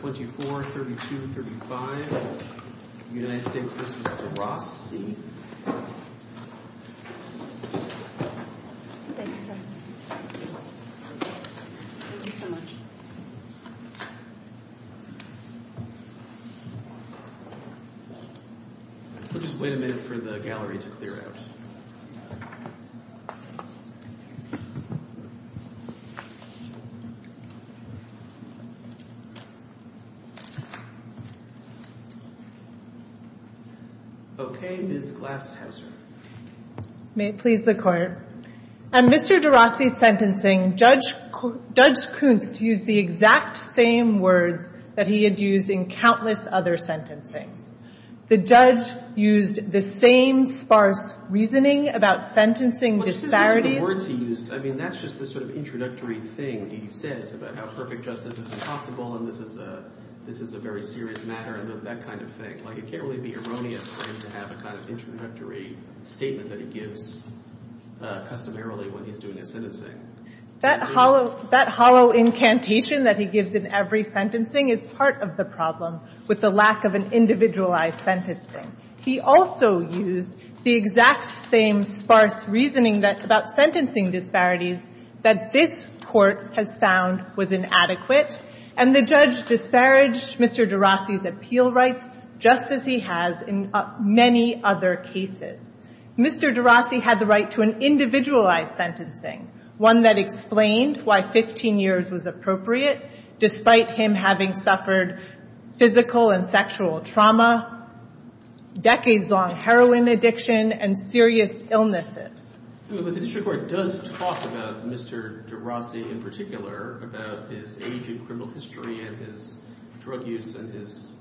We'll just wait a minute for the gallery to clear out. Okay, Ms. Glashauser. May it please the Court. On Mr. Derosse's sentencing, Judge Kunst used the exact same words that he had used in countless other sentencings. The judge used the same sparse reasoning about sentencing disparities. The words he used, I mean, that's just the sort of introductory thing he says about how perfect justice is impossible and this is a very serious matter and that kind of thing. Like, it can't really be erroneous for him to have a kind of introductory statement that he gives customarily when he's doing his sentencing. That hollow incantation that he gives in every sentencing is part of the problem with the lack of an individualized sentencing. He also used the exact same sparse reasoning about sentencing disparities that this Court has found was inadequate. And the judge disparaged Mr. Derosse's appeal rights just as he has in many other cases. Mr. Derosse had the right to an individualized sentencing, one that explained why 15 years was appropriate, despite him having suffered physical and sexual trauma, decades-long heroin addiction, and serious illnesses. But the district court does talk about Mr. Derosse in particular, about his age in criminal history and his drug use and his,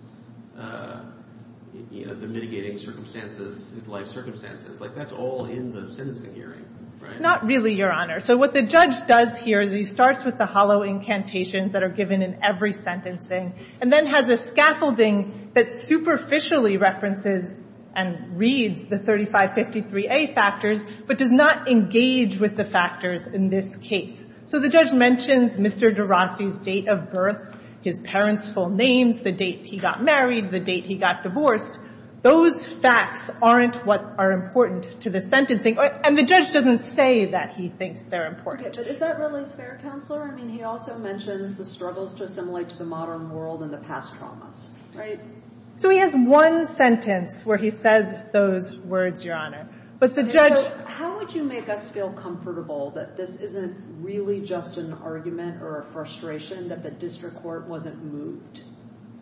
you know, the mitigating circumstances, his life circumstances. Like, that's all in the sentencing hearing, right? Not really, Your Honor. So what the judge does here is he starts with the hollow incantations that are given in every sentencing, and then has a scaffolding that superficially references and reads the 3553A factors, but does not engage with the factors in this case. So the judge mentions Mr. Derosse's date of birth, his parents' full names, the date he got married, the date he got divorced. Those facts aren't what are important to the sentencing. And the judge doesn't say that he thinks they're important. But is that really fair, Counselor? I mean, he also mentions the struggles to assimilate to the modern world and the past traumas, right? So he has one sentence where he says those words, Your Honor. But the judge How would you make us feel comfortable that this isn't really just an argument or a frustration that the district court wasn't moved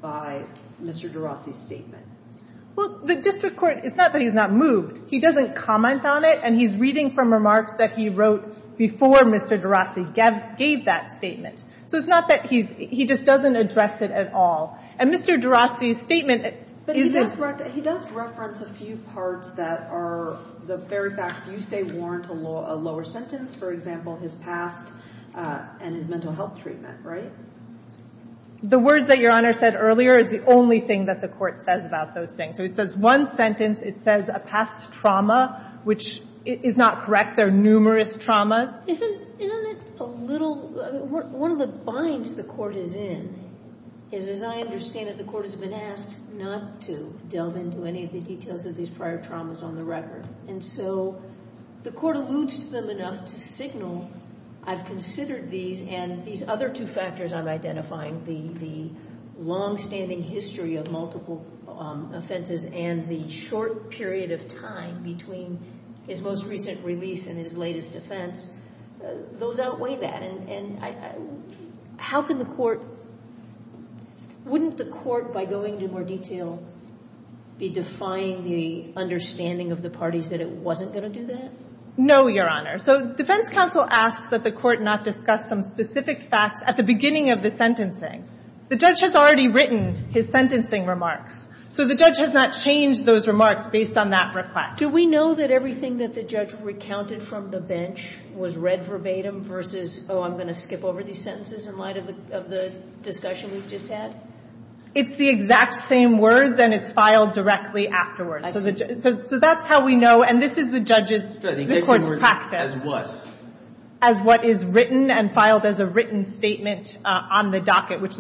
by Mr. Derosse's statement? Well, the district court, it's not that he's not moved. He doesn't comment on it, and he's reading from remarks that he wrote before Mr. Derosse gave that statement. So it's not that he's, he just doesn't address it at all. And Mr. Derosse's statement But he does reference a few parts that are the very facts you say warrant a lower sentence. For example, his past and his mental health treatment, right? The words that Your Honor said earlier is the only thing that the court says about those things. So it says one sentence. It says a past trauma, which is not correct. There are numerous traumas. Isn't it a little, one of the binds the court is in is, as I understand it, the court has been asked not to delve into any of the details of these prior traumas on the record. And so the court alludes to them enough to signal I've considered these and these other two factors I'm identifying, the longstanding history of multiple offenses and the short period of time between his most recent release and his latest offense, those outweigh that. And how can the court, wouldn't the court, by going into more detail, be defying the understanding of the parties that it wasn't going to do that? No, Your Honor. So defense counsel asks that the court not discuss some specific facts at the beginning of the sentencing. The judge has already written his sentencing remarks. So the judge has not changed those remarks based on that request. Do we know that everything that the judge recounted from the bench was read verbatim versus, oh, I'm going to skip over these sentences in light of the discussion we've just had? It's the exact same words, and it's filed directly afterwards. So that's how we know. And this is the judge's court's practice. As what? As what is written and filed as a written statement on the docket, which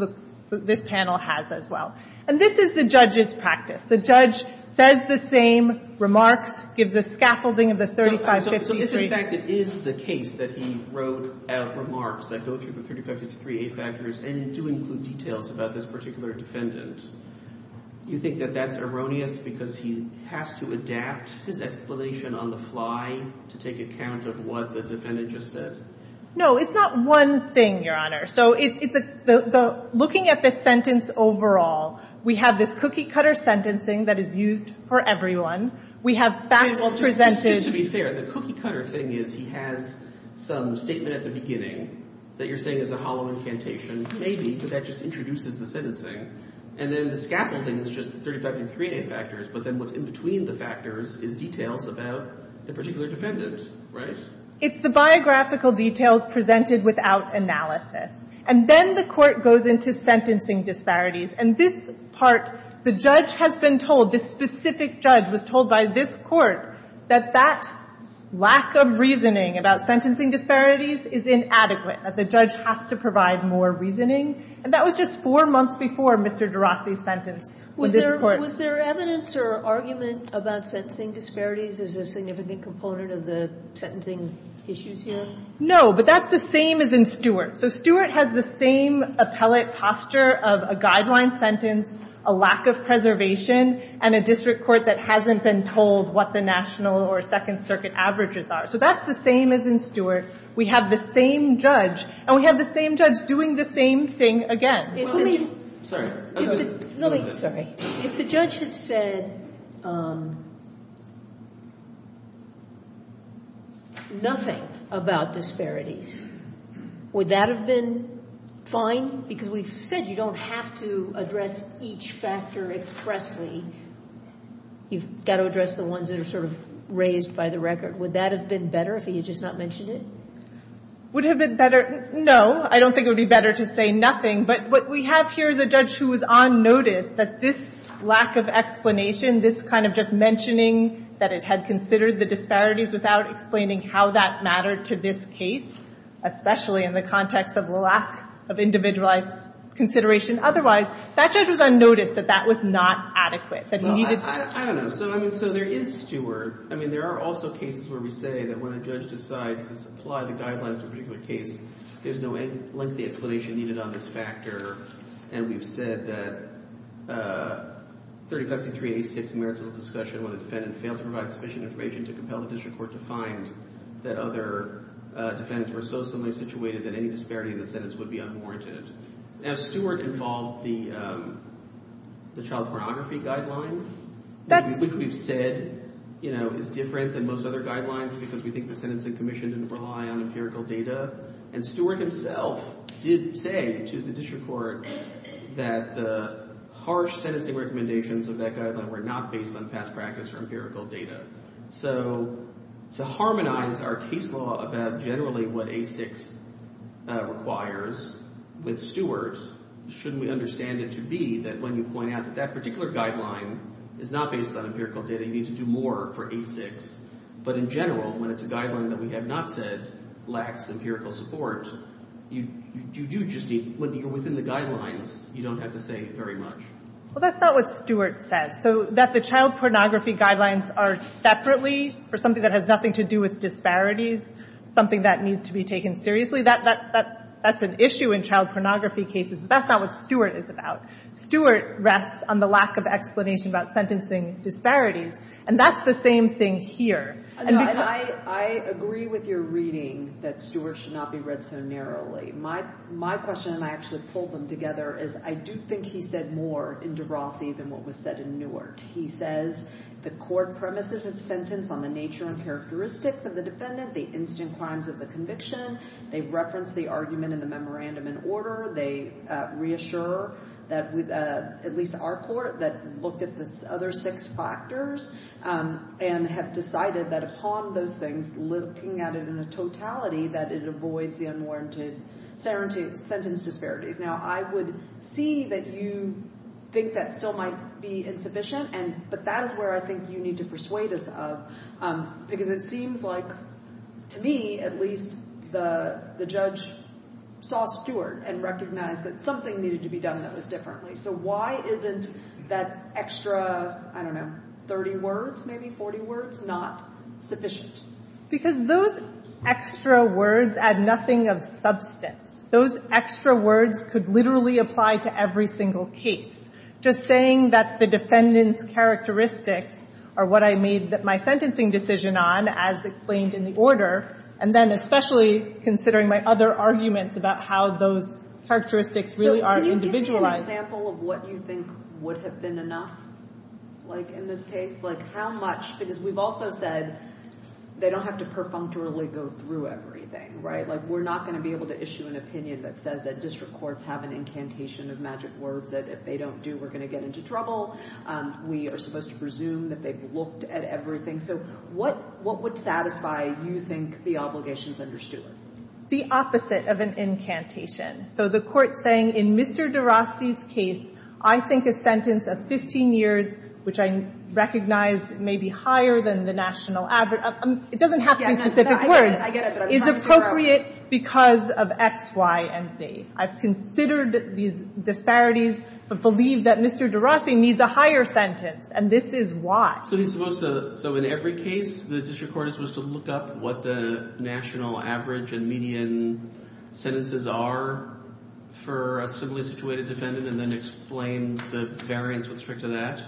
this panel has as well. And this is the judge's practice. The judge says the same remarks, gives a scaffolding of the 3553. So if, in fact, it is the case that he wrote out remarks that go through the 3553A factors and do include details about this particular defendant, do you think that that's erroneous because he has to adapt his explanation on the fly to take account of what the defendant just said? No, it's not one thing, Your Honor. Looking at the sentence overall, we have this cookie-cutter sentencing that is used for everyone. We have facts presented. Just to be fair, the cookie-cutter thing is he has some statement at the beginning that you're saying is a hollow incantation, maybe, but that just introduces the sentencing. And then the scaffolding is just the 3553A factors, but then what's in between the factors is details about the particular defendant, right? It's the biographical details presented without analysis. And then the court goes into sentencing disparities. And this part, the judge has been told, this specific judge was told by this court that that lack of reasoning about sentencing disparities is inadequate, that the judge has to provide more reasoning. And that was just four months before Mr. De Rossi's sentence. Was there evidence or argument about sentencing disparities as a significant component of the sentencing issues here? No, but that's the same as in Stewart. So Stewart has the same appellate posture of a guideline sentence, a lack of preservation, and a district court that hasn't been told what the National or Second Circuit averages are. So that's the same as in Stewart. We have the same judge, and we have the same judge doing the same thing again. Sorry. If the judge had said nothing about disparities, would that have been fine? Because we've said you don't have to address each factor expressly. You've got to address the ones that are sort of raised by the record. Would that have been better if he had just not mentioned it? Would it have been better? No. I don't think it would be better to say nothing. But what we have here is a judge who was on notice that this lack of explanation, this kind of just mentioning that it had considered the disparities without explaining how that mattered to this case, especially in the context of lack of individualized consideration otherwise, that judge was on notice that that was not adequate, that he needed to. Well, I don't know. So, I mean, so there is Stewart. I mean, there are also cases where we say that when a judge decides to supply the guidelines to a particular case, there's no lengthy explanation needed on this factor. And we've said that 3053A6 merits a little discussion where the defendant failed to provide sufficient information to compel the district court to find that other defendants were so similarly situated that any disparity in the sentence would be unwarranted. Now, Stewart involved the child pornography guideline, which we think we've said is different than most other guidelines because we think the sentencing commission didn't rely on empirical data. And Stewart himself did say to the district court that the harsh sentencing recommendations of that guideline were not based on past practice or empirical data. So to harmonize our case law about generally what A6 requires with Stewart, shouldn't we understand it to be that when you point out that that particular guideline is not based on empirical data, you need to do more for A6. But in general, when it's a guideline that we have not said lacks empirical support, you do just need, when you're within the guidelines, you don't have to say very much. Well, that's not what Stewart said. So that the child pornography guidelines are separately for something that has nothing to do with disparities, something that needs to be taken seriously, that's an issue in child pornography cases, but that's not what Stewart is about. Stewart rests on the lack of explanation about sentencing disparities. And that's the same thing here. I agree with your reading that Stewart should not be read so narrowly. My question, and I actually pulled them together, is I do think he said more in de Rossi than what was said in Newart. He says the court premises its sentence on the nature and characteristics of the defendant, the instant crimes of the conviction. They reference the argument in the memorandum in order. They reassure, at least our court, that looked at the other six factors and have decided that upon those things, looking at it in a totality, that it avoids the unwarranted sentence disparities. Now, I would see that you think that still might be insufficient, but that is where I think you need to persuade us of, because it seems like, to me at least, the judge saw Stewart and recognized that something needed to be done that was differently. So why isn't that extra, I don't know, 30 words maybe, 40 words, not sufficient? Because those extra words add nothing of substance. Those extra words could literally apply to every single case. Just saying that the defendant's characteristics are what I made my sentencing decision on, as explained in the order, and then especially considering my other arguments about how those characteristics really are individualized. Can you give me an example of what you think would have been enough, like in this case? Like how much, because we've also said they don't have to perfunctorily go through everything, right? Like we're not going to be able to issue an opinion that says that district courts have an incantation of magic words that if they don't do, we're going to get into trouble. We are supposed to presume that they've looked at everything. So what would satisfy, you think, the obligations under Stewart? The opposite of an incantation. So the court saying, in Mr. de Rossi's case, I think a sentence of 15 years, which I recognize may be higher than the national average, it doesn't have to be specific words, is appropriate because of X, Y, and Z. I've considered these disparities, but believe that Mr. de Rossi needs a higher sentence, and this is why. So he's supposed to, so in every case, the district court is supposed to look up what the national average and median sentences are for a civilly-situated defendant and then explain the variance with respect to that?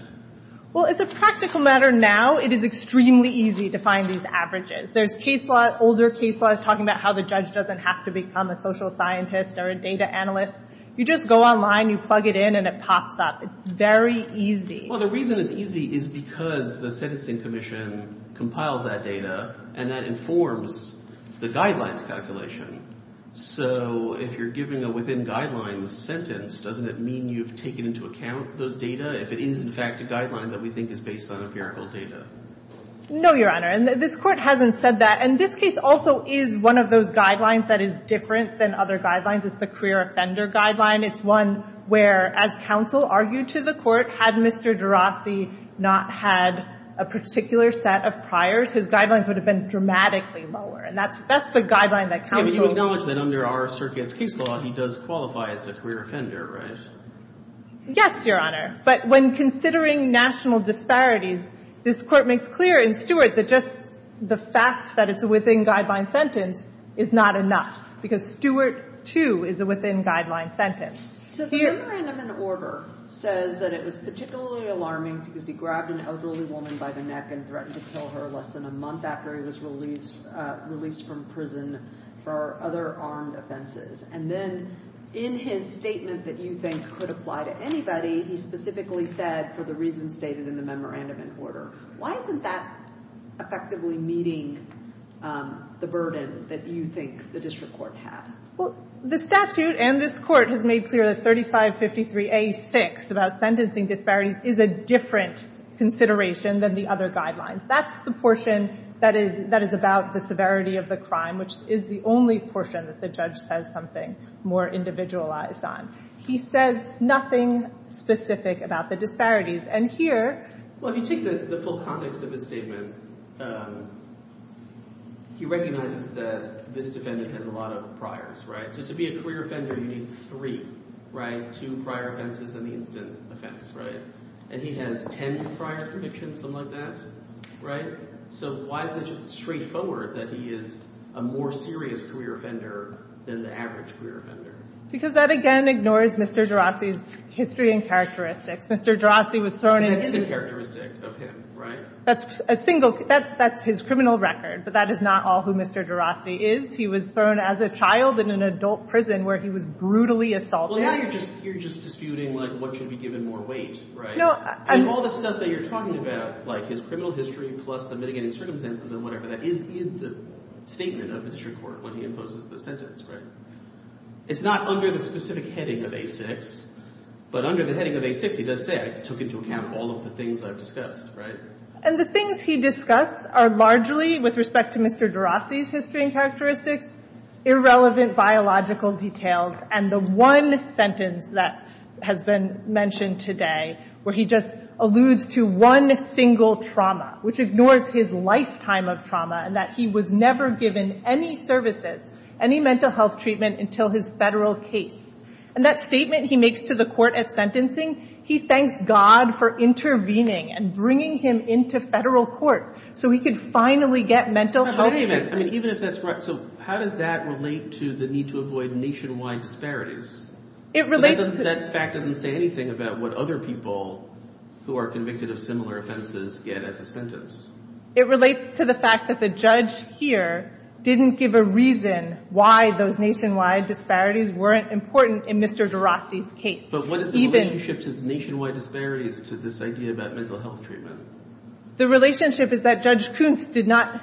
Well, as a practical matter now, it is extremely easy to find these averages. There's case law, older case law, that's talking about how the judge doesn't have to become a social scientist or a data analyst. You just go online, you plug it in, and it pops up. It's very easy. Well, the reason it's easy is because the sentencing commission compiles that data and that informs the guidelines calculation. So if you're giving a within guidelines sentence, doesn't it mean you've taken into account those data if it is, in fact, a guideline that we think is based on empirical data? No, Your Honor, and this court hasn't said that. And this case also is one of those guidelines that is different than other guidelines. It's the career offender guideline. It's one where, as counsel argued to the court, had Mr. DeRossi not had a particular set of priors, his guidelines would have been dramatically lower. And that's the guideline that counsel... Yeah, but you acknowledge that under our circuit's case law, he does qualify as a career offender, right? Yes, Your Honor. But when considering national disparities, this court makes clear in Stewart that just the fact that it's a within guidelines sentence is not enough because Stewart, too, is a within guidelines sentence. So the memorandum in order says that it was particularly alarming because he grabbed an elderly woman by the neck and threatened to kill her less than a month after he was released from prison for other armed offenses. And then in his statement that you think could apply to anybody, he specifically said, for the reasons stated in the memorandum in order. Why isn't that effectively meeting the burden that you think the district court had? Well, the statute and this court have made clear that 3553A6, about sentencing disparities, is a different consideration than the other guidelines. That's the portion that is about the severity of the crime, which is the only portion that the judge says something more individualized on. He says nothing specific about the disparities. And here... Well, if you take the full context of his statement, he recognizes that this defendant has a lot of priors, right? So to be a career offender, you need three, right? Two prior offenses and the instant offense, right? And he has 10 prior convictions, something like that, right? So why is it just straightforward that he is a more serious career offender than the average career offender? Because that, again, ignores Mr. DeRossi's history and characteristics. Mr. DeRossi was thrown in... That is a characteristic of him, right? That's a single... That's his criminal record. But that is not all who Mr. DeRossi is. He was thrown as a child in an adult prison where he was brutally assaulted. Well, now you're just disputing, like, what should be given more weight, right? And all the stuff that you're talking about, like his criminal history plus the mitigating circumstances and whatever, that is in the statement of the district court when he imposes the sentence, right? It's not under the specific heading of A6. But under the heading of A6, he does say, I took into account all of the things I've discussed, right? And the things he discusses are largely, with respect to Mr. DeRossi's history and characteristics, irrelevant biological details. And the one sentence that has been mentioned today where he just alludes to one single trauma, which ignores his lifetime of trauma, and that he was never given any services, any mental health treatment until his federal case. And that statement he makes to the court at sentencing, he thanks God for intervening and bringing him into federal court so he could finally get mental health treatment. Wait a minute. I mean, even if that's right, so how does that relate to the need to avoid nationwide disparities? It relates to... That fact doesn't say anything about what other people who are convicted of similar offenses get as a sentence. It relates to the fact that the judge here didn't give a reason why those nationwide disparities weren't important in Mr. DeRossi's case. So what is the relationship to the nationwide disparities to this idea about mental health treatment? The relationship is that Judge Kuntz did not,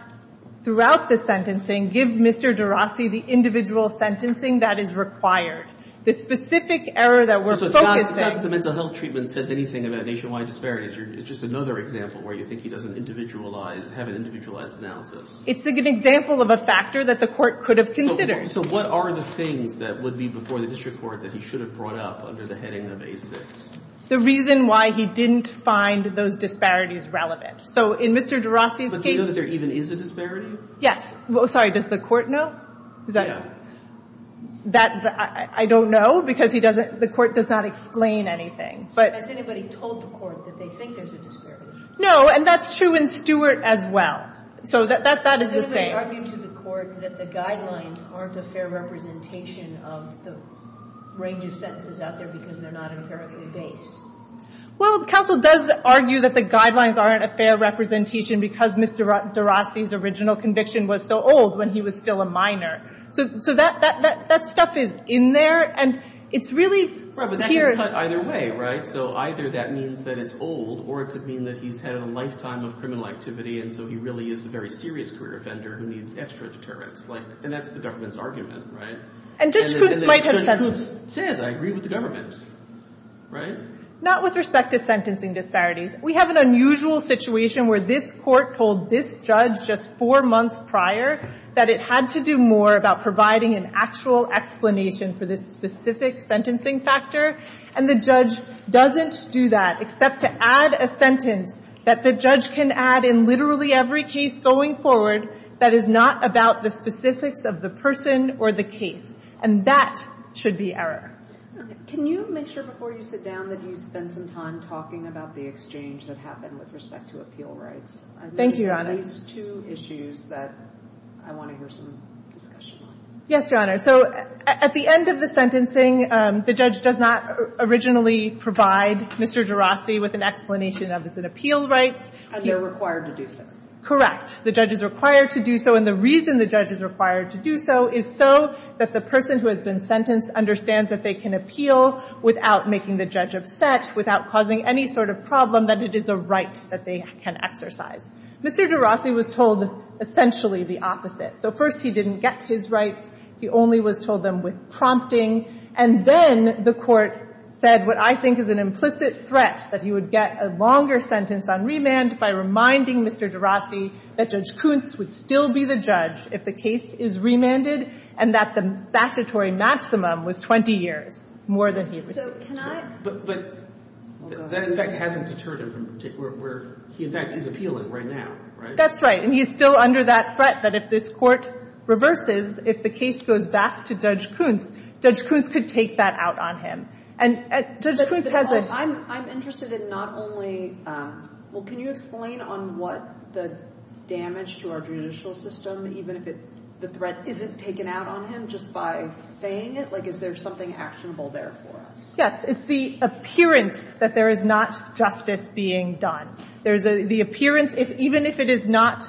throughout the sentencing, give Mr. DeRossi the individual sentencing that is required. The specific error that we're focusing... So it's not that the mental health treatment says anything about nationwide disparities. It's just another example where you think he doesn't individualize, have an individualized analysis. It's an example of a factor that the court could have considered. So what are the things that would be before the district court that he should have brought up under the heading of A6? The reason why he didn't find those disparities relevant. So in Mr. DeRossi's case... But do you know that there even is a disparity? Yes. Sorry, does the court know? Yeah. I don't know because the court does not explain anything. Has anybody told the court that they think there's a disparity? No, and that's true in Stewart as well. So that is the same. Has anybody argued to the court that the guidelines aren't a fair representation of the range of sentences out there because they're not empirically based? Well, counsel does argue that the guidelines aren't a fair representation because Mr. DeRossi's original conviction was so old when he was still a minor. So that stuff is in there, and it's really... Right, but that could be cut either way, right? So either that means that it's old or it could mean that he's had a lifetime of criminal activity and so he really is a very serious career offender who needs extra deterrence. And that's the government's argument, right? And Judge Koontz might have said... And Judge Koontz says, I agree with the government, right? Not with respect to sentencing disparities. We have an unusual situation where this court told this judge just four months prior that it had to do more about providing an actual explanation for this specific sentencing factor, and the judge doesn't do that except to add a sentence that the judge can add in literally every case going forward that is not about the specifics of the person or the case. And that should be error. Okay. Can you make sure before you sit down that you spend some time talking about the exchange that happened with respect to appeal rights? Thank you, Your Honor. These two issues that I want to hear some discussion on. Yes, Your Honor. So at the end of the sentencing, the judge does not originally provide Mr. DeRossi with an explanation of his appeal rights. And they're required to do so. Correct. The judge is required to do so, and the reason the judge is required to do so is so that the person who has been sentenced understands that they can appeal without making the judge upset, without causing any sort of problem, that it is a right that they can exercise. Mr. DeRossi was told essentially the opposite. So first he didn't get his rights. He only was told them with prompting. And then the court said what I think is an implicit threat, that he would get a longer sentence on remand by reminding Mr. DeRossi that Judge Kuntz would still be the judge if the case is remanded and that the statutory maximum was 20 years, more than he received. So can I... But that in fact hasn't deterred him from where he in fact is appealing right now, right? That's right. And he's still under that threat that if this court reverses, if the case goes back to Judge Kuntz, Judge Kuntz could take that out on him. And Judge Kuntz has a... I'm interested in not only... Well, can you explain on what the damage to our judicial system, even if the threat isn't taken out on him just by saying it? Like is there something actionable there for us? Yes. It's the appearance that there is not justice being done. There's the appearance, even if it is not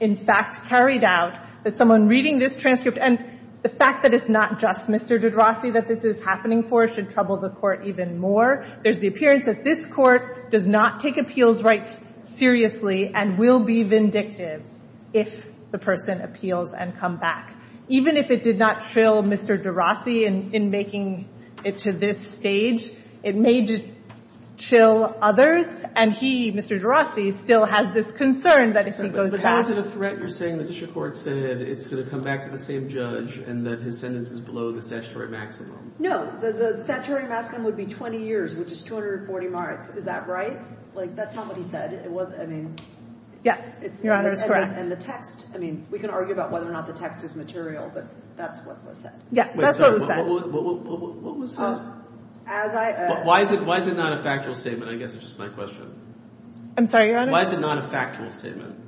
in fact carried out, that someone reading this transcript and the fact that it's not just Mr. DeRossi that this is happening for should trouble the court even more. There's the appearance that this court does not take appeals rights seriously and will be vindictive if the person appeals and come back. Even if it did not trill Mr. DeRossi in making it to this stage, it may just trill others and he, Mr. DeRossi, still has this concern that if he goes back... But how is it a threat? You're saying the judicial court said it's going to come back to the same judge and that his sentence is below the statutory maximum? No. The statutory maximum would be 20 years, which is 240 marks. Is that right? Like that's not what he said. It wasn't... I mean... Yes. Your Honor, it's correct. And the text... I mean, we can argue about whether or not the text is material, but that's what was said. Yes. That's what was said. What was said? As I... Why is it not a factual statement? I guess it's just my question. I'm sorry, Your Honor? Why is it not a factual statement?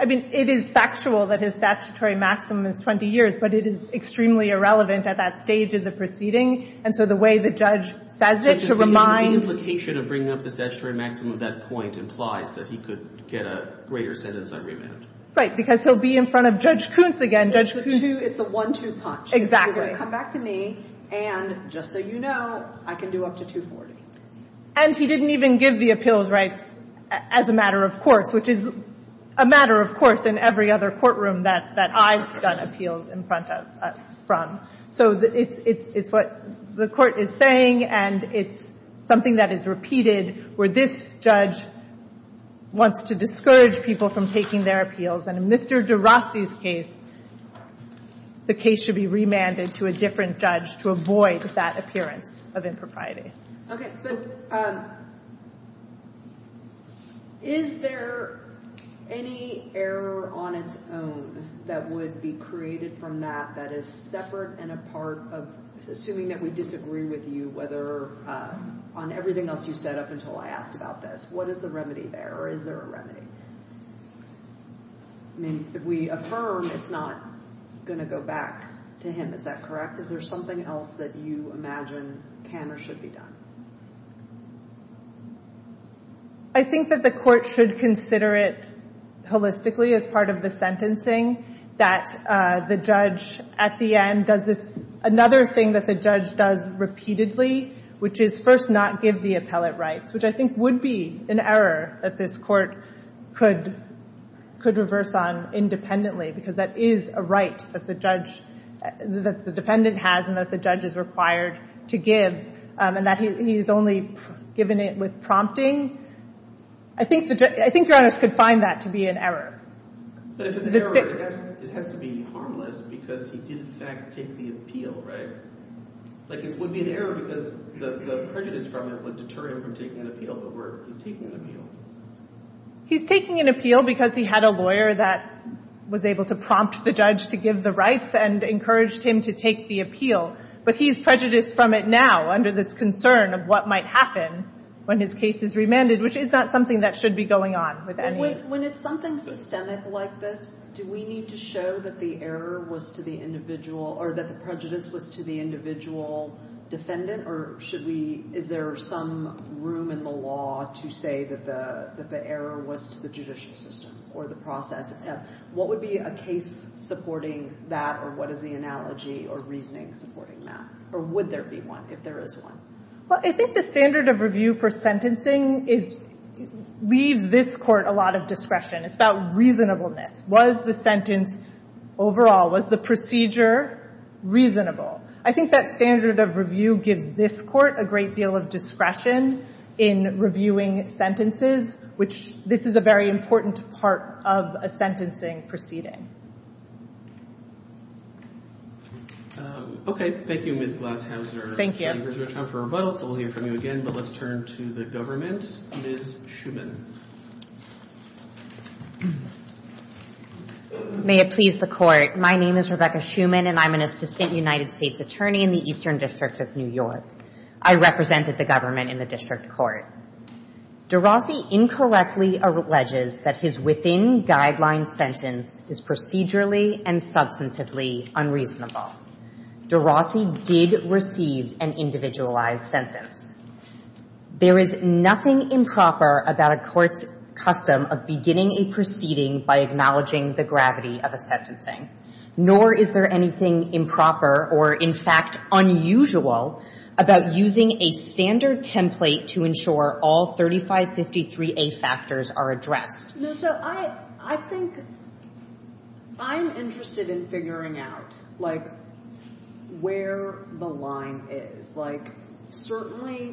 I mean, it is factual that his statutory maximum is 20 years, but it is extremely irrelevant at that stage of the proceeding. And so the way the judge says it, to remind... The implication of bringing up the statutory maximum at that point implies that he could get a greater sentence on remand. Right. Because he'll be in front of Judge Kuntz again. Judge Kuntz... It's the one-two punch. Exactly. He's going to come back to me and, just so you know, I can do up to 240. And he didn't even give the appeals rights as a matter of course, which is a matter of course in every other courtroom that I've done appeals in front of, from. So it's what the court is saying and it's something that is repeated where this judge wants to discourage people from taking their appeals. And in Mr. de Rossi's case, the case should be remanded to a different judge to avoid that appearance of impropriety. Okay. But is there any error on its own that would be created from that that is separate and a part of, assuming that we disagree with you, whether on everything else you said up until I asked about this, what is the remedy there or is there a remedy? I mean, if we affirm, it's not going to go back to him. Is that correct? Is there something else that you imagine can or should be done? I think that the court should consider it holistically as part of the sentencing that the judge, at the end, does another thing that the judge does repeatedly, which is first not give the appellate rights, which I think would be an error that this court could reverse on independently because that is a right that the judge, that the defendant has and that the judge is required to give and that he's only given it with prompting. I think Your Honor could find that to be an error. But if it's an error, it has to be harmless because he did, in fact, take the appeal, right? Like, it would be an error because the prejudice from it would deter him from taking an appeal but he's taking an appeal. He's taking an appeal because he had a lawyer that was able to prompt the judge to give the rights and encouraged him to take the appeal but he's prejudiced from it now under this concern of what might happen when his case is remanded, which is not something that should be going on with anyone. When it's something systemic like this, do we need to show that the error was to the individual or that the prejudice was to the individual defendant or should we, is there some room in the law to say that the error was to the judicial system or the process? What would be a case supporting that or what is the analogy or reasoning supporting that? Or would there be one if there is one? Well, I think the standard of review for sentencing leaves this court a lot of discretion. It's about reasonableness. Was the sentence, overall, was the procedure reasonable? I think that standard of review gives this court a great deal of discretion in reviewing sentences, which this is a very important part of a sentencing proceeding. Okay, thank you, Ms. Glashauser. Thank you. There's no time for rebuttals, so we'll hear from you again, but let's turn to the government. Ms. Schuman. May it please the court. My name is Rebecca Schuman and I'm an assistant United States attorney in the Eastern District of New York. I represented the government in the district court. De Rossi incorrectly alleges that his within-guideline sentence is procedurally and substantively unreasonable. De Rossi did receive an individualized sentence. There is nothing improper about a court's custom of beginning a proceeding by acknowledging the gravity of a sentencing, nor is there anything improper or, in fact, unusual about using a standard template to ensure all 3553A factors are addressed. No, so I think I'm interested in figuring out, like, where the line is. Like, certainly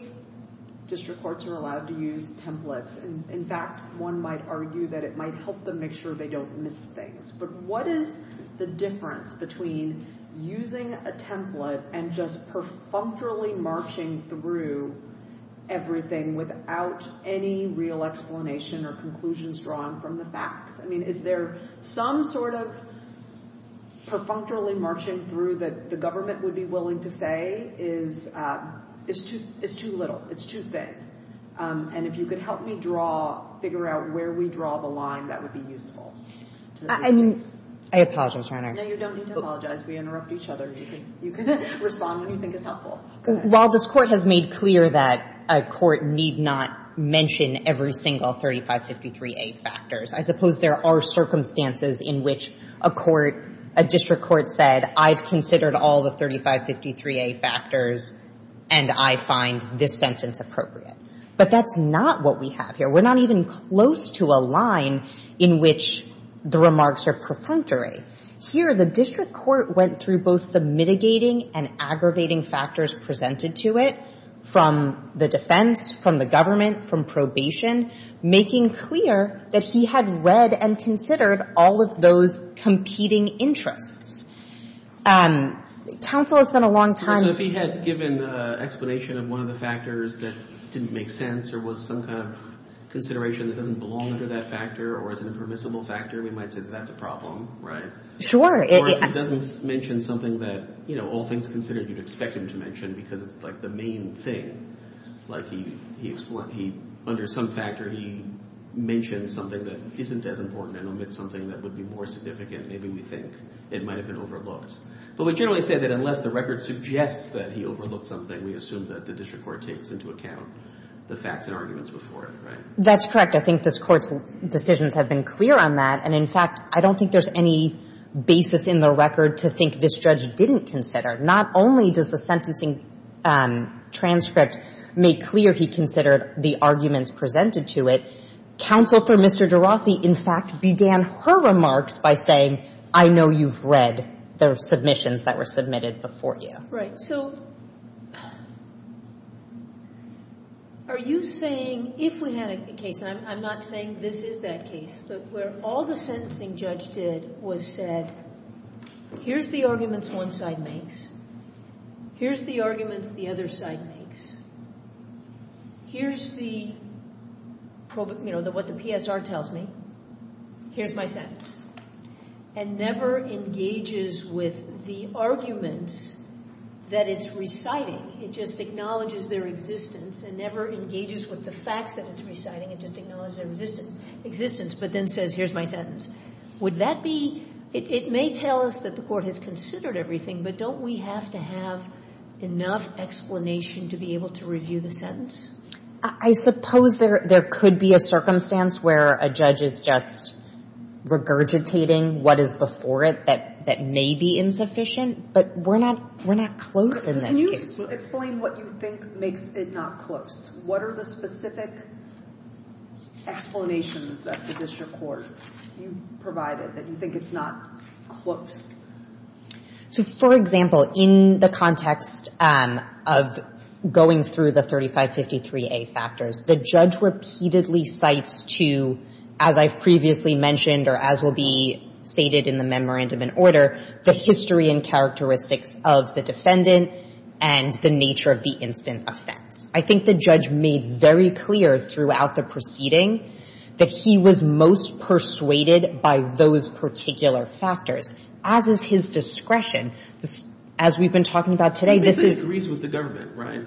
district courts are allowed to use templates. In fact, one might argue that it might help them make sure they don't miss things. But what is the difference between using a template and just perfunctorily marching through everything without any real explanation or conclusions drawn from the facts? I mean, is there some sort of perfunctorily marching through that the government would be willing to say is too little, it's too thin? And if you could help me draw, figure out where we draw the line, that would be useful. I mean, I apologize, Your Honor. No, you don't need to apologize. We interrupt each other. You can respond when you think is helpful. While this Court has made clear that a court need not mention every single 3553A factors, I suppose there are circumstances in which a court, a district court said, I've considered all the 3553A factors and I find this sentence appropriate. But that's not what we have here. We're not even close to a line in which the remarks are perfunctory. Here, the district court went through both the mitigating and aggravating factors presented to it from the defense, from the government, from probation, making clear that he had read and considered all of those competing interests. Counsel has spent a long time... So if he had given an explanation of one of the factors that didn't make sense or was some kind of consideration that doesn't belong under that factor or is an impermissible factor, we might say that that's a problem, right? Sure. Or if he doesn't mention something that, you know, all things considered, you'd expect him to mention because it's, like, the main thing. Like, under some factor, he mentioned something that isn't as important and omits something that would be more significant. Maybe we think it might have been overlooked. But we generally say that unless the record suggests that he overlooked something, we assume that the district court takes into account the facts and arguments before it, right? That's correct. I think this Court's decisions have been clear on that. And, in fact, I don't think there's any basis in the record to think this judge didn't consider. Not only does the sentencing transcript make clear he considered the arguments presented to it, Counsel for Mr. DeRossi, in fact, began her remarks by saying, I know you've read the submissions that were submitted before you. Right. So are you saying if we had a case, and I'm not saying this is that case, but where all the sentencing judge did was said, here's the arguments one side makes. Here's the arguments the other side makes. Here's the, you know, what the PSR tells me. Here's my sentence. And never engages with the arguments that it's reciting. It just acknowledges their existence and never engages with the facts that it's reciting. It just acknowledges their existence. But then says, here's my sentence. Would that be, it may tell us that the court has considered everything, but don't we have to have enough explanation to be able to review the sentence? I suppose there could be a circumstance where a judge is just regurgitating what is before it that may be insufficient. But we're not close in this case. Can you explain what you think makes it not close? What are the specific explanations that the district court provided that you think it's not close? So, for example, in the context of going through the 3553A factors, the judge repeatedly cites to, as I've previously mentioned or as will be stated in the memorandum in order, the history and characteristics of the defendant and the nature of the instant offense. I think the judge made very clear throughout the proceeding that he was most persuaded by those particular factors, as is his discretion. As we've been talking about today, this is... But this agrees with the government, right?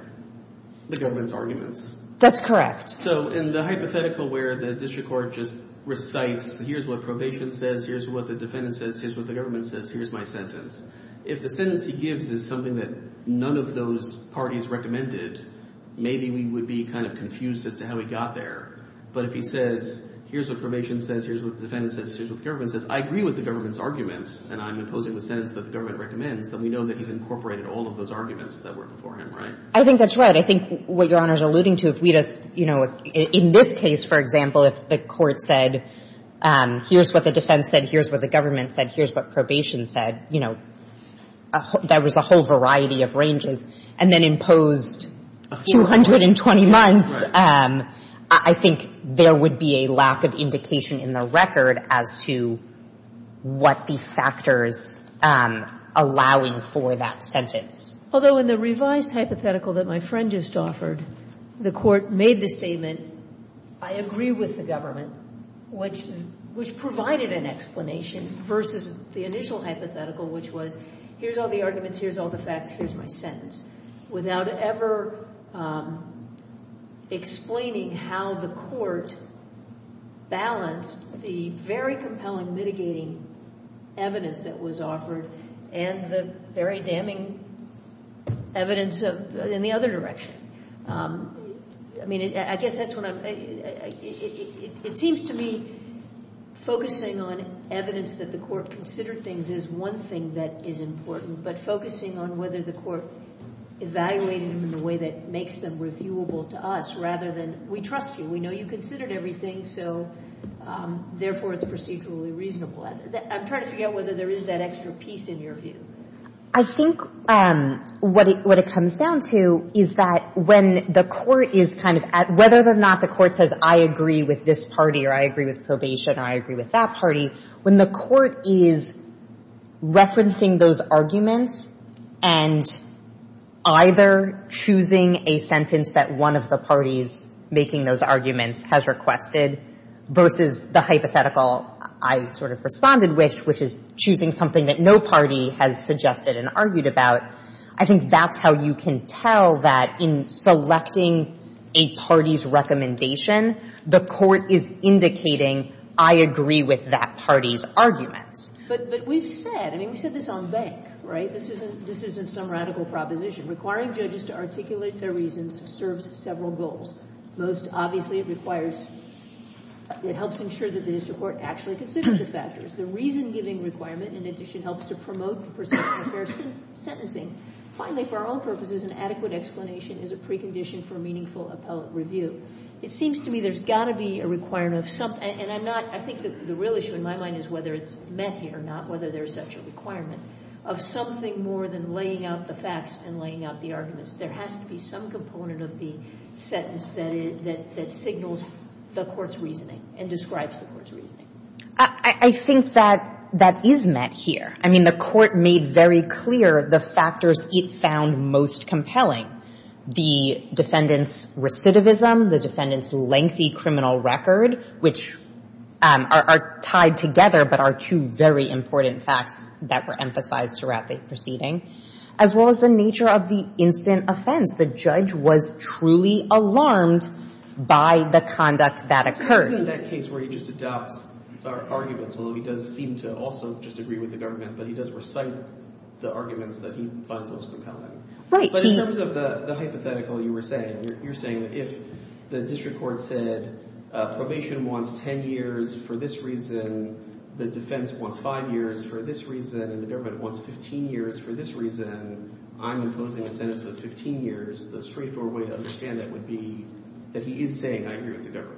The government's arguments. That's correct. So in the hypothetical where the district court just recites, here's what probation says, here's what the defendant says, here's what the government says, here's my sentence. If the sentence he gives is something that none of those parties recommended, maybe we would be kind of confused as to how he got there. But if he says, here's what probation says, here's what the defendant says, here's what the government says, I agree with the government's arguments, and I'm imposing the sentence that the government recommends, then we know that he's incorporated all of those arguments that were before him, right? I think that's right. I think what Your Honor is alluding to, if we just, you know, in this case, for example, if the court said, here's what the defense said, here's what the government said, here's what probation said, you know, that was a whole variety of ranges, and then imposed 220 months, I think there would be a lack of indication in the record as to what the factors allowing for that sentence. Although in the revised hypothetical that my friend just offered, the court made the statement, I agree with the government, which provided an explanation versus the initial hypothetical, which was, here's all the arguments, here's all the facts, here's my sentence, without ever explaining how the court balanced the very compelling mitigating evidence that was offered and the very damning evidence in the other direction. I mean, I guess that's what I'm, it seems to me focusing on evidence that the court considered things as one thing that is important, but focusing on whether the court evaluated them in a way that makes them reviewable to us rather than, we trust you, we know you considered everything, so therefore it's procedurally reasonable. I'm trying to figure out whether there is that extra piece in your view. I think what it comes down to is that when the court is kind of, whether or not the court says I agree with this party or I agree with probation or I agree with that party, when the court is referencing those arguments and either choosing a sentence that one of the parties making those arguments has requested versus the hypothetical I sort of responded with, which is choosing something that no party has suggested and argued about, I think that's how you can tell that in selecting a party's recommendation, the court is indicating I agree with that party's arguments. But we've said, I mean, we said this on bank, right? This isn't some radical proposition. Requiring judges to articulate their reasons serves several goals. Most obviously it requires, it helps ensure that the district court actually considers the factors. The reason-giving requirement, in addition, helps to promote the perception of fair sentencing. Finally, for our own purposes, an adequate explanation is a precondition for meaningful appellate review. It seems to me there's got to be a requirement of some, and I'm not, I think the real issue in my mind is whether it's met here, not whether there's such a requirement, of something more than laying out the facts and laying out the arguments. There has to be some component of the sentence that signals the court's reasoning and describes the court's reasoning. I think that that is met here. I mean, the court made very clear the factors it found most compelling, the defendant's recidivism, the defendant's lengthy criminal record, which are tied together but are two very important facts that were emphasized throughout the proceeding, as well as the nature of the instant offense. The judge was truly alarmed by the conduct that occurred. It's in that case where he just adopts our arguments, although he does seem to also just agree with the government, but he does recite the arguments that he finds most compelling. But in terms of the hypothetical you were saying, you're saying that if the district court said probation wants 10 years for this reason, the defense wants 5 years for this reason, and the government wants 15 years for this reason, I'm imposing a sentence of 15 years, the straightforward way to understand that would be that he is saying, I agree with the government.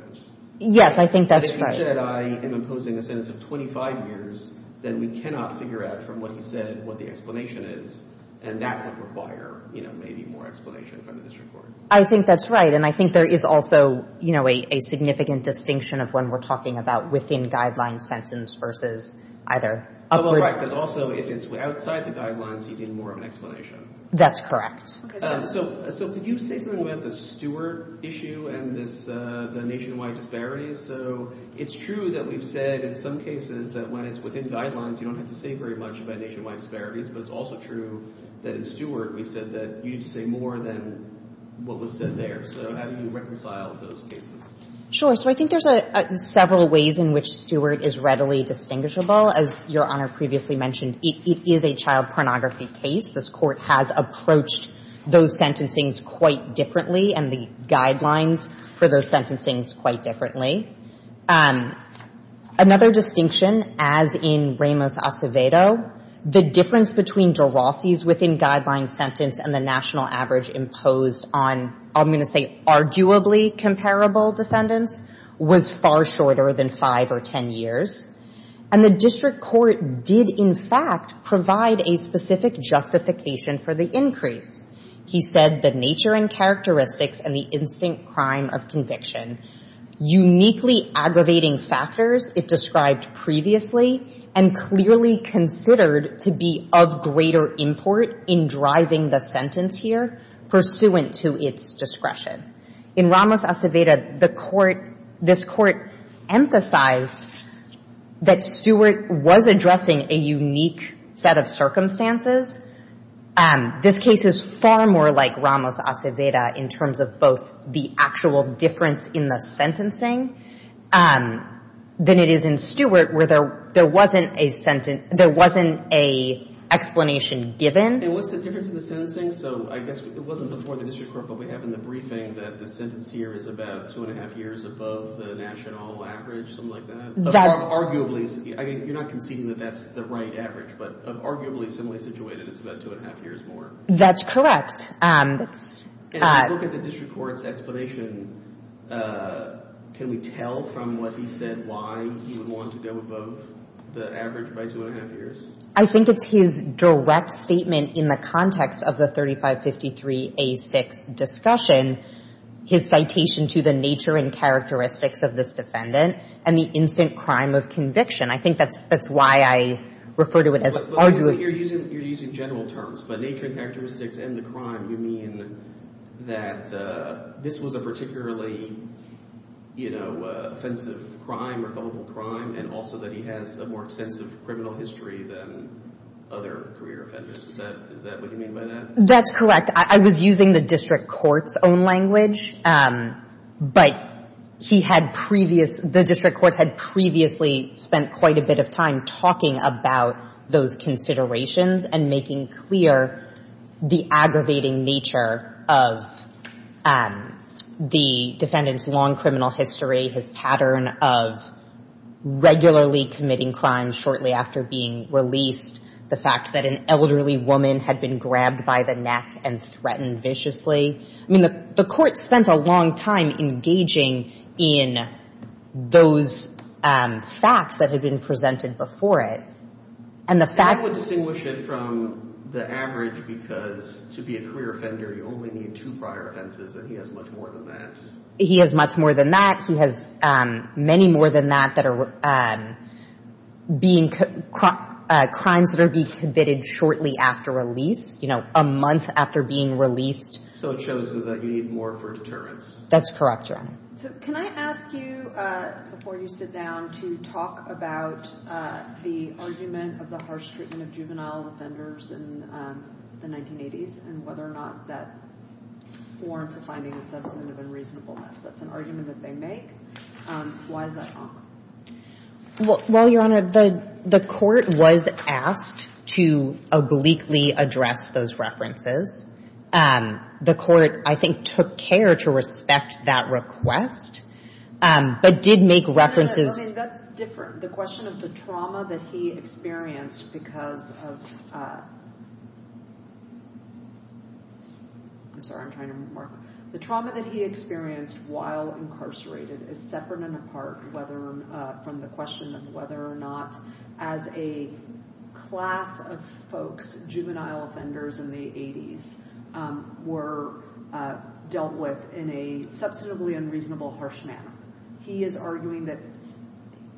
Yes, I think that's right. But if he said, I am imposing a sentence of 25 years, then we cannot figure out from what he said what the explanation is, and that would require, you know, maybe more explanation from the district court. I think that's right, and I think there is also, you know, a significant distinction of when we're talking about within guidelines sentence versus either. Oh, right, because also if it's outside the guidelines, you need more of an explanation. That's correct. So could you say something about the Stewart issue and the nationwide disparities? So it's true that we've said in some cases that when it's within guidelines, you don't have to say very much about nationwide disparities, but it's also true that in Stewart, we said that you need to say more than what was said there. So how do you reconcile those cases? Sure. So I think there's several ways in which Stewart is readily distinguishable. As Your Honor previously mentioned, it is a child pornography case. This Court has approached those sentencings quite differently and the guidelines for those sentencings quite differently. Another distinction, as in Ramos-Acevedo, the difference between Durossi's within guidelines sentence and the national average imposed on, I'm going to say arguably comparable defendants, was far shorter than five or ten years. And the district court did, in fact, provide a specific justification for the increase. He said the nature and characteristics and the instant crime of conviction uniquely aggravating factors it described previously and clearly considered to be of greater import in driving the sentence here, pursuant to its discretion. In Ramos-Acevedo, this Court emphasized that Stewart was addressing a unique set of circumstances. This case is far more like Ramos-Acevedo in terms of both the actual difference in the sentencing than it is in Stewart, where there wasn't a sentence, there wasn't a explanation given. And what's the difference in the sentencing? So I guess it wasn't before the district court, but we have in the briefing that the sentence here is about two and a half years above the national average, something like that? Arguably, you're not conceding that that's the right average, but arguably, similarly situated, it's about two and a half years more. That's correct. And if you look at the district court's explanation, can we tell from what he said why he would want to go above the average by two and a half years? I think it's his direct statement in the context of the 3553A6 discussion, his citation to the nature and characteristics of this defendant and the instant crime of conviction. I think that's why I refer to it as arguably— You're using general terms, but nature and characteristics and the crime, you mean that this was a particularly, you know, offensive crime or culpable crime, and also that he has a more extensive criminal history than other career offenders. Is that what you mean by that? That's correct. I was using the district court's own language, but he had previous—the district court had previously spent quite a bit of time talking about those considerations and making clear the aggravating nature of the defendant's long criminal history, his pattern of regularly committing crimes shortly after being released, the fact that an elderly woman had been grabbed by the neck and threatened viciously. I mean, the court spent a long time engaging in those facts that had been presented before it, and the fact— You're taking it from the average because to be a career offender, you only need two prior offenses, and he has much more than that. He has much more than that. He has many more than that that are being— crimes that are being committed shortly after release, you know, a month after being released. So it shows that you need more for deterrence. That's correct, Your Honor. Can I ask you, before you sit down, to talk about the argument of the harsh treatment of juvenile offenders in the 1980s and whether or not that warrants a finding of substantive unreasonableness? That's an argument that they make. Why is that wrong? Well, Your Honor, the court was asked to obliquely address those references. The court, I think, took care to respect that request but did make references— That's different. The question of the trauma that he experienced because of— I'm sorry, I'm trying to— The trauma that he experienced while incarcerated is separate and apart from the question of whether or not, as a class of folks, juvenile offenders in the 80s were dealt with in a substantively unreasonable harsh manner. He is arguing that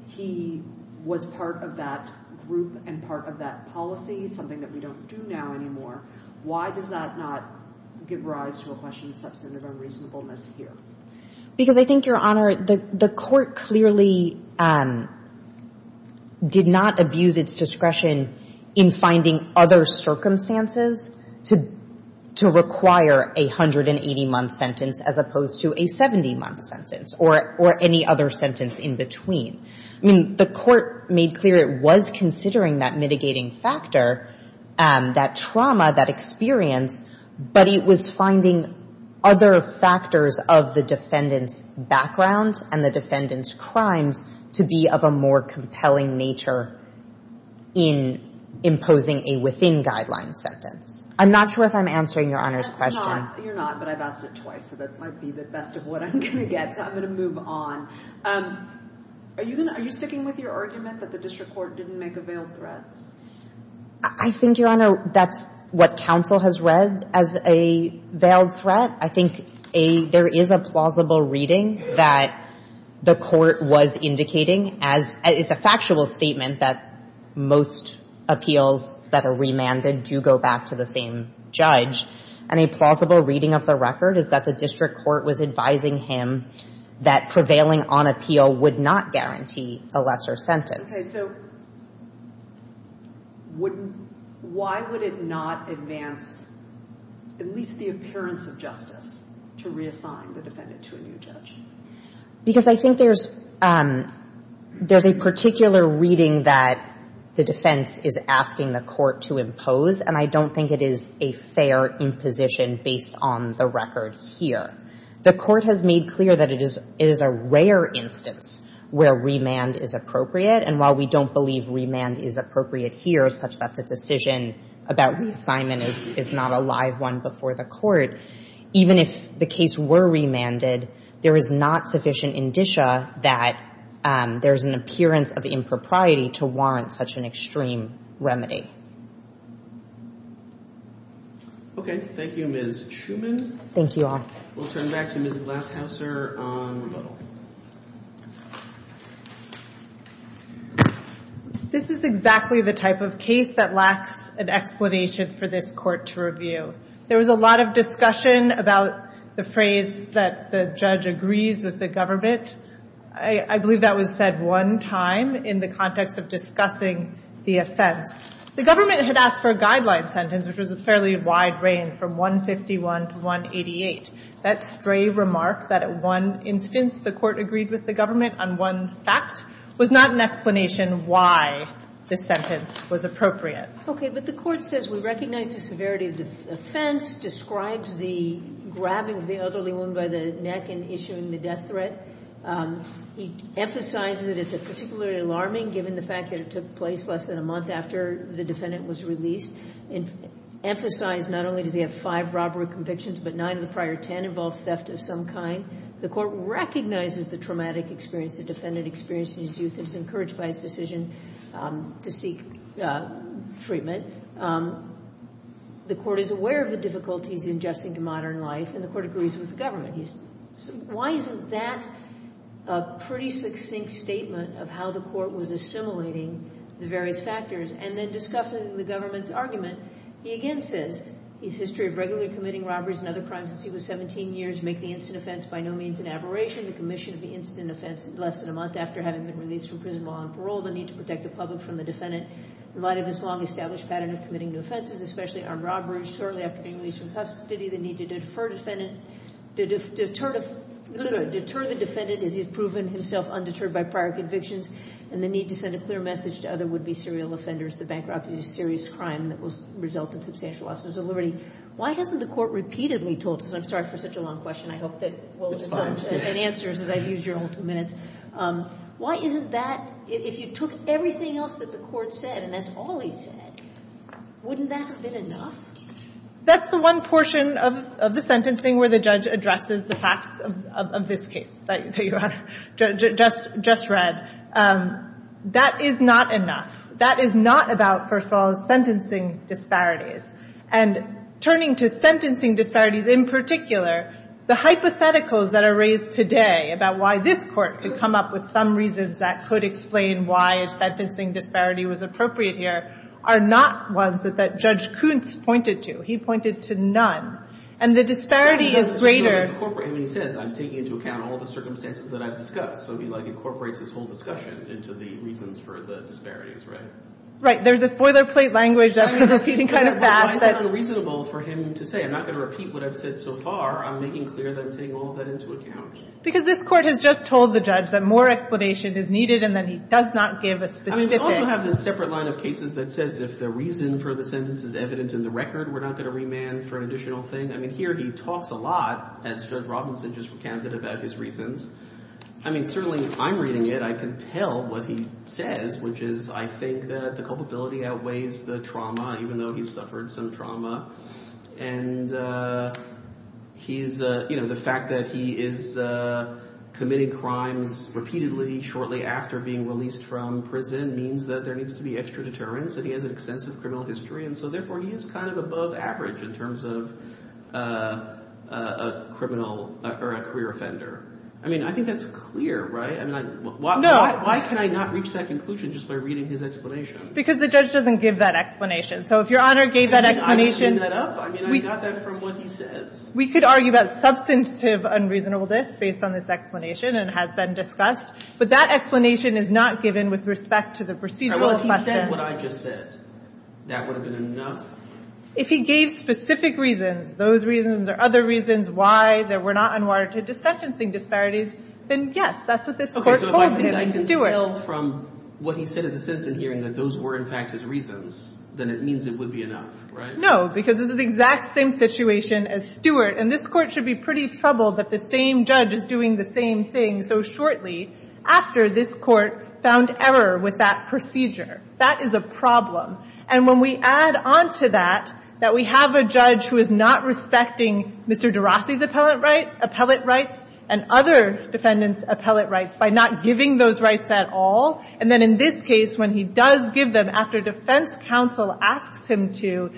he was part of that group and part of that policy, something that we don't do now anymore. Why does that not give rise to a question of substantive unreasonableness here? Because I think, Your Honor, the court clearly did not abuse its discretion in finding other circumstances to require a 180-month sentence as opposed to a 70-month sentence or any other sentence in between. I mean, the court made clear it was considering that mitigating factor, that trauma, that experience, but it was finding other factors of the defendant's background and the defendant's crimes to be of a more compelling nature in imposing a within-guideline sentence. I'm not sure if I'm answering Your Honor's question. You're not, but I've asked it twice, so that might be the best of what I'm going to get, so I'm going to move on. Are you sticking with your argument that the district court didn't make a veiled threat? I think, Your Honor, that's what counsel has read as a veiled threat. I think there is a plausible reading that the court was indicating, as it's a factual statement, that most appeals that are remanded do go back to the same judge, and a plausible reading of the record is that the district court was advising him that prevailing on appeal would not guarantee a lesser sentence. Okay, so why would it not advance at least the appearance of justice to reassign the defendant to a new judge? Because I think there's a particular reading that the defense is asking the court to impose, and I don't think it is a fair imposition based on the record here. The court has made clear that it is a rare instance where remand is appropriate, and while we don't believe remand is appropriate here, such that the decision about reassignment is not a live one before the court, even if the case were remanded, there is not sufficient indicia that there's an appearance of impropriety to warrant such an extreme remedy. Okay, thank you, Ms. Schuman. Thank you, Your Honor. We'll turn back to Ms. Glashauser on remodel. This is exactly the type of case that lacks an explanation for this court to review. There was a lot of discussion about the phrase that the judge agrees with the government. I believe that was said one time in the context of discussing the offense. The government had asked for a guideline sentence, which was a fairly wide range, from 151 to 188. That stray remark that at one instance the court agreed with the government on one fact was not an explanation why the sentence was appropriate. Okay, but the court says we recognize the severity of the offense, describes the grabbing of the elderly woman by the neck and issuing the death threat. He emphasizes that it's particularly alarming given the fact that it took place less than a month after the defendant was released, emphasized not only does he have five robbery convictions, but nine of the prior ten involved theft of some kind. The court recognizes the traumatic experience the defendant experienced in his youth and is encouraged by his decision to seek treatment. The court is aware of the difficulties in adjusting to modern life, and the court agrees with the government. Why isn't that a pretty succinct statement of how the court was assimilating the various factors? And then discussing the government's argument, he again says his history of regularly committing robberies and other crimes since he was 17 years, make the incident offense by no means an aberration. The commission of the incident offense less than a month after having been released from prison while on parole, the need to protect the public from the defendant in light of his long-established pattern of committing new offenses, especially armed robberies shortly after being released from custody, the need to deter the defendant as he has proven himself undeterred by prior convictions, and the need to send a clear message to other would-be serial offenders that bankruptcy is a serious crime that will result in substantial losses of liberty. Why hasn't the court repeatedly told us, and I'm sorry for such a long question. I hope that we'll get some answers as I've used your whole two minutes. Why isn't that, if you took everything else that the court said, and that's all he said, wouldn't that have been enough? That's the one portion of the sentencing where the judge addresses the facts of this case that Your Honor just read. That is not enough. That is not about, first of all, sentencing disparities. And turning to sentencing disparities in particular, the hypotheticals that are raised today about why this court could come up with some reasons that could explain why a sentencing disparity was appropriate here are not ones that Judge Kuntz pointed to. He pointed to none. And the disparity is greater... He says, I'm taking into account all the circumstances that I've discussed. So he incorporates his whole discussion into the reasons for the disparities, right? Right. There's a spoiler plate language that we can kind of pass. Why is it unreasonable for him to say, I'm not going to repeat what I've said so far. I'm making clear that I'm taking all that into account. Because this court has just told the judge that more explanation is needed and that he does not give a specific... I also have this separate line of cases that says if the reason for the sentence is evident in the record, we're not going to remand for an additional thing. I mean, here he talks a lot, as Judge Robinson just recounted about his reasons. I mean, certainly, if I'm reading it, I can tell what he says, which is, I think that the culpability outweighs the trauma, even though he's suffered some trauma. And he's... The fact that he is committing crimes repeatedly, shortly after being released from prison means that there needs to be extra deterrence, and he has an extensive criminal history. And so, therefore, he is kind of above average in terms of a career offender. I mean, I think that's clear, right? Why can I not reach that conclusion just by reading his explanation? Because the judge doesn't give that explanation. So if Your Honor gave that explanation... I mean, I've seen that up. I mean, I got that from what he says. We could argue about substantive unreasonableness based on this explanation, and it has been discussed. But that explanation is not given with respect to the procedural question. All right, well, if he said what I just said, that would have been enough? If he gave specific reasons, those reasons or other reasons why there were not unwarranted sentencing disparities, then, yes, that's what this Court told him. Okay, so if I can tell from what he said in the sentencing hearing that those were, in fact, his reasons, then it means it would be enough, right? No, because this is the exact same situation as Stewart. And this Court should be pretty troubled that the same judge is doing the same thing so shortly after this Court found error with that procedure. That is a problem. And when we add on to that that we have a judge who is not respecting Mr. de Rossi's appellate rights and other defendants' appellate rights by not giving those rights at all, and then in this case, when he does give them after defense counsel asks him to,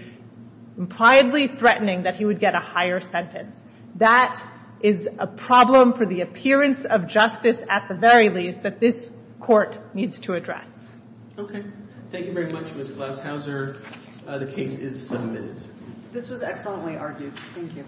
impliedly threatening that he would get a higher sentence, that is a problem for the appearance of justice at the very least that this Court needs to address. Thank you very much, Ms. Glaskauser. The case is submitted. This was excellently argued. Thank you.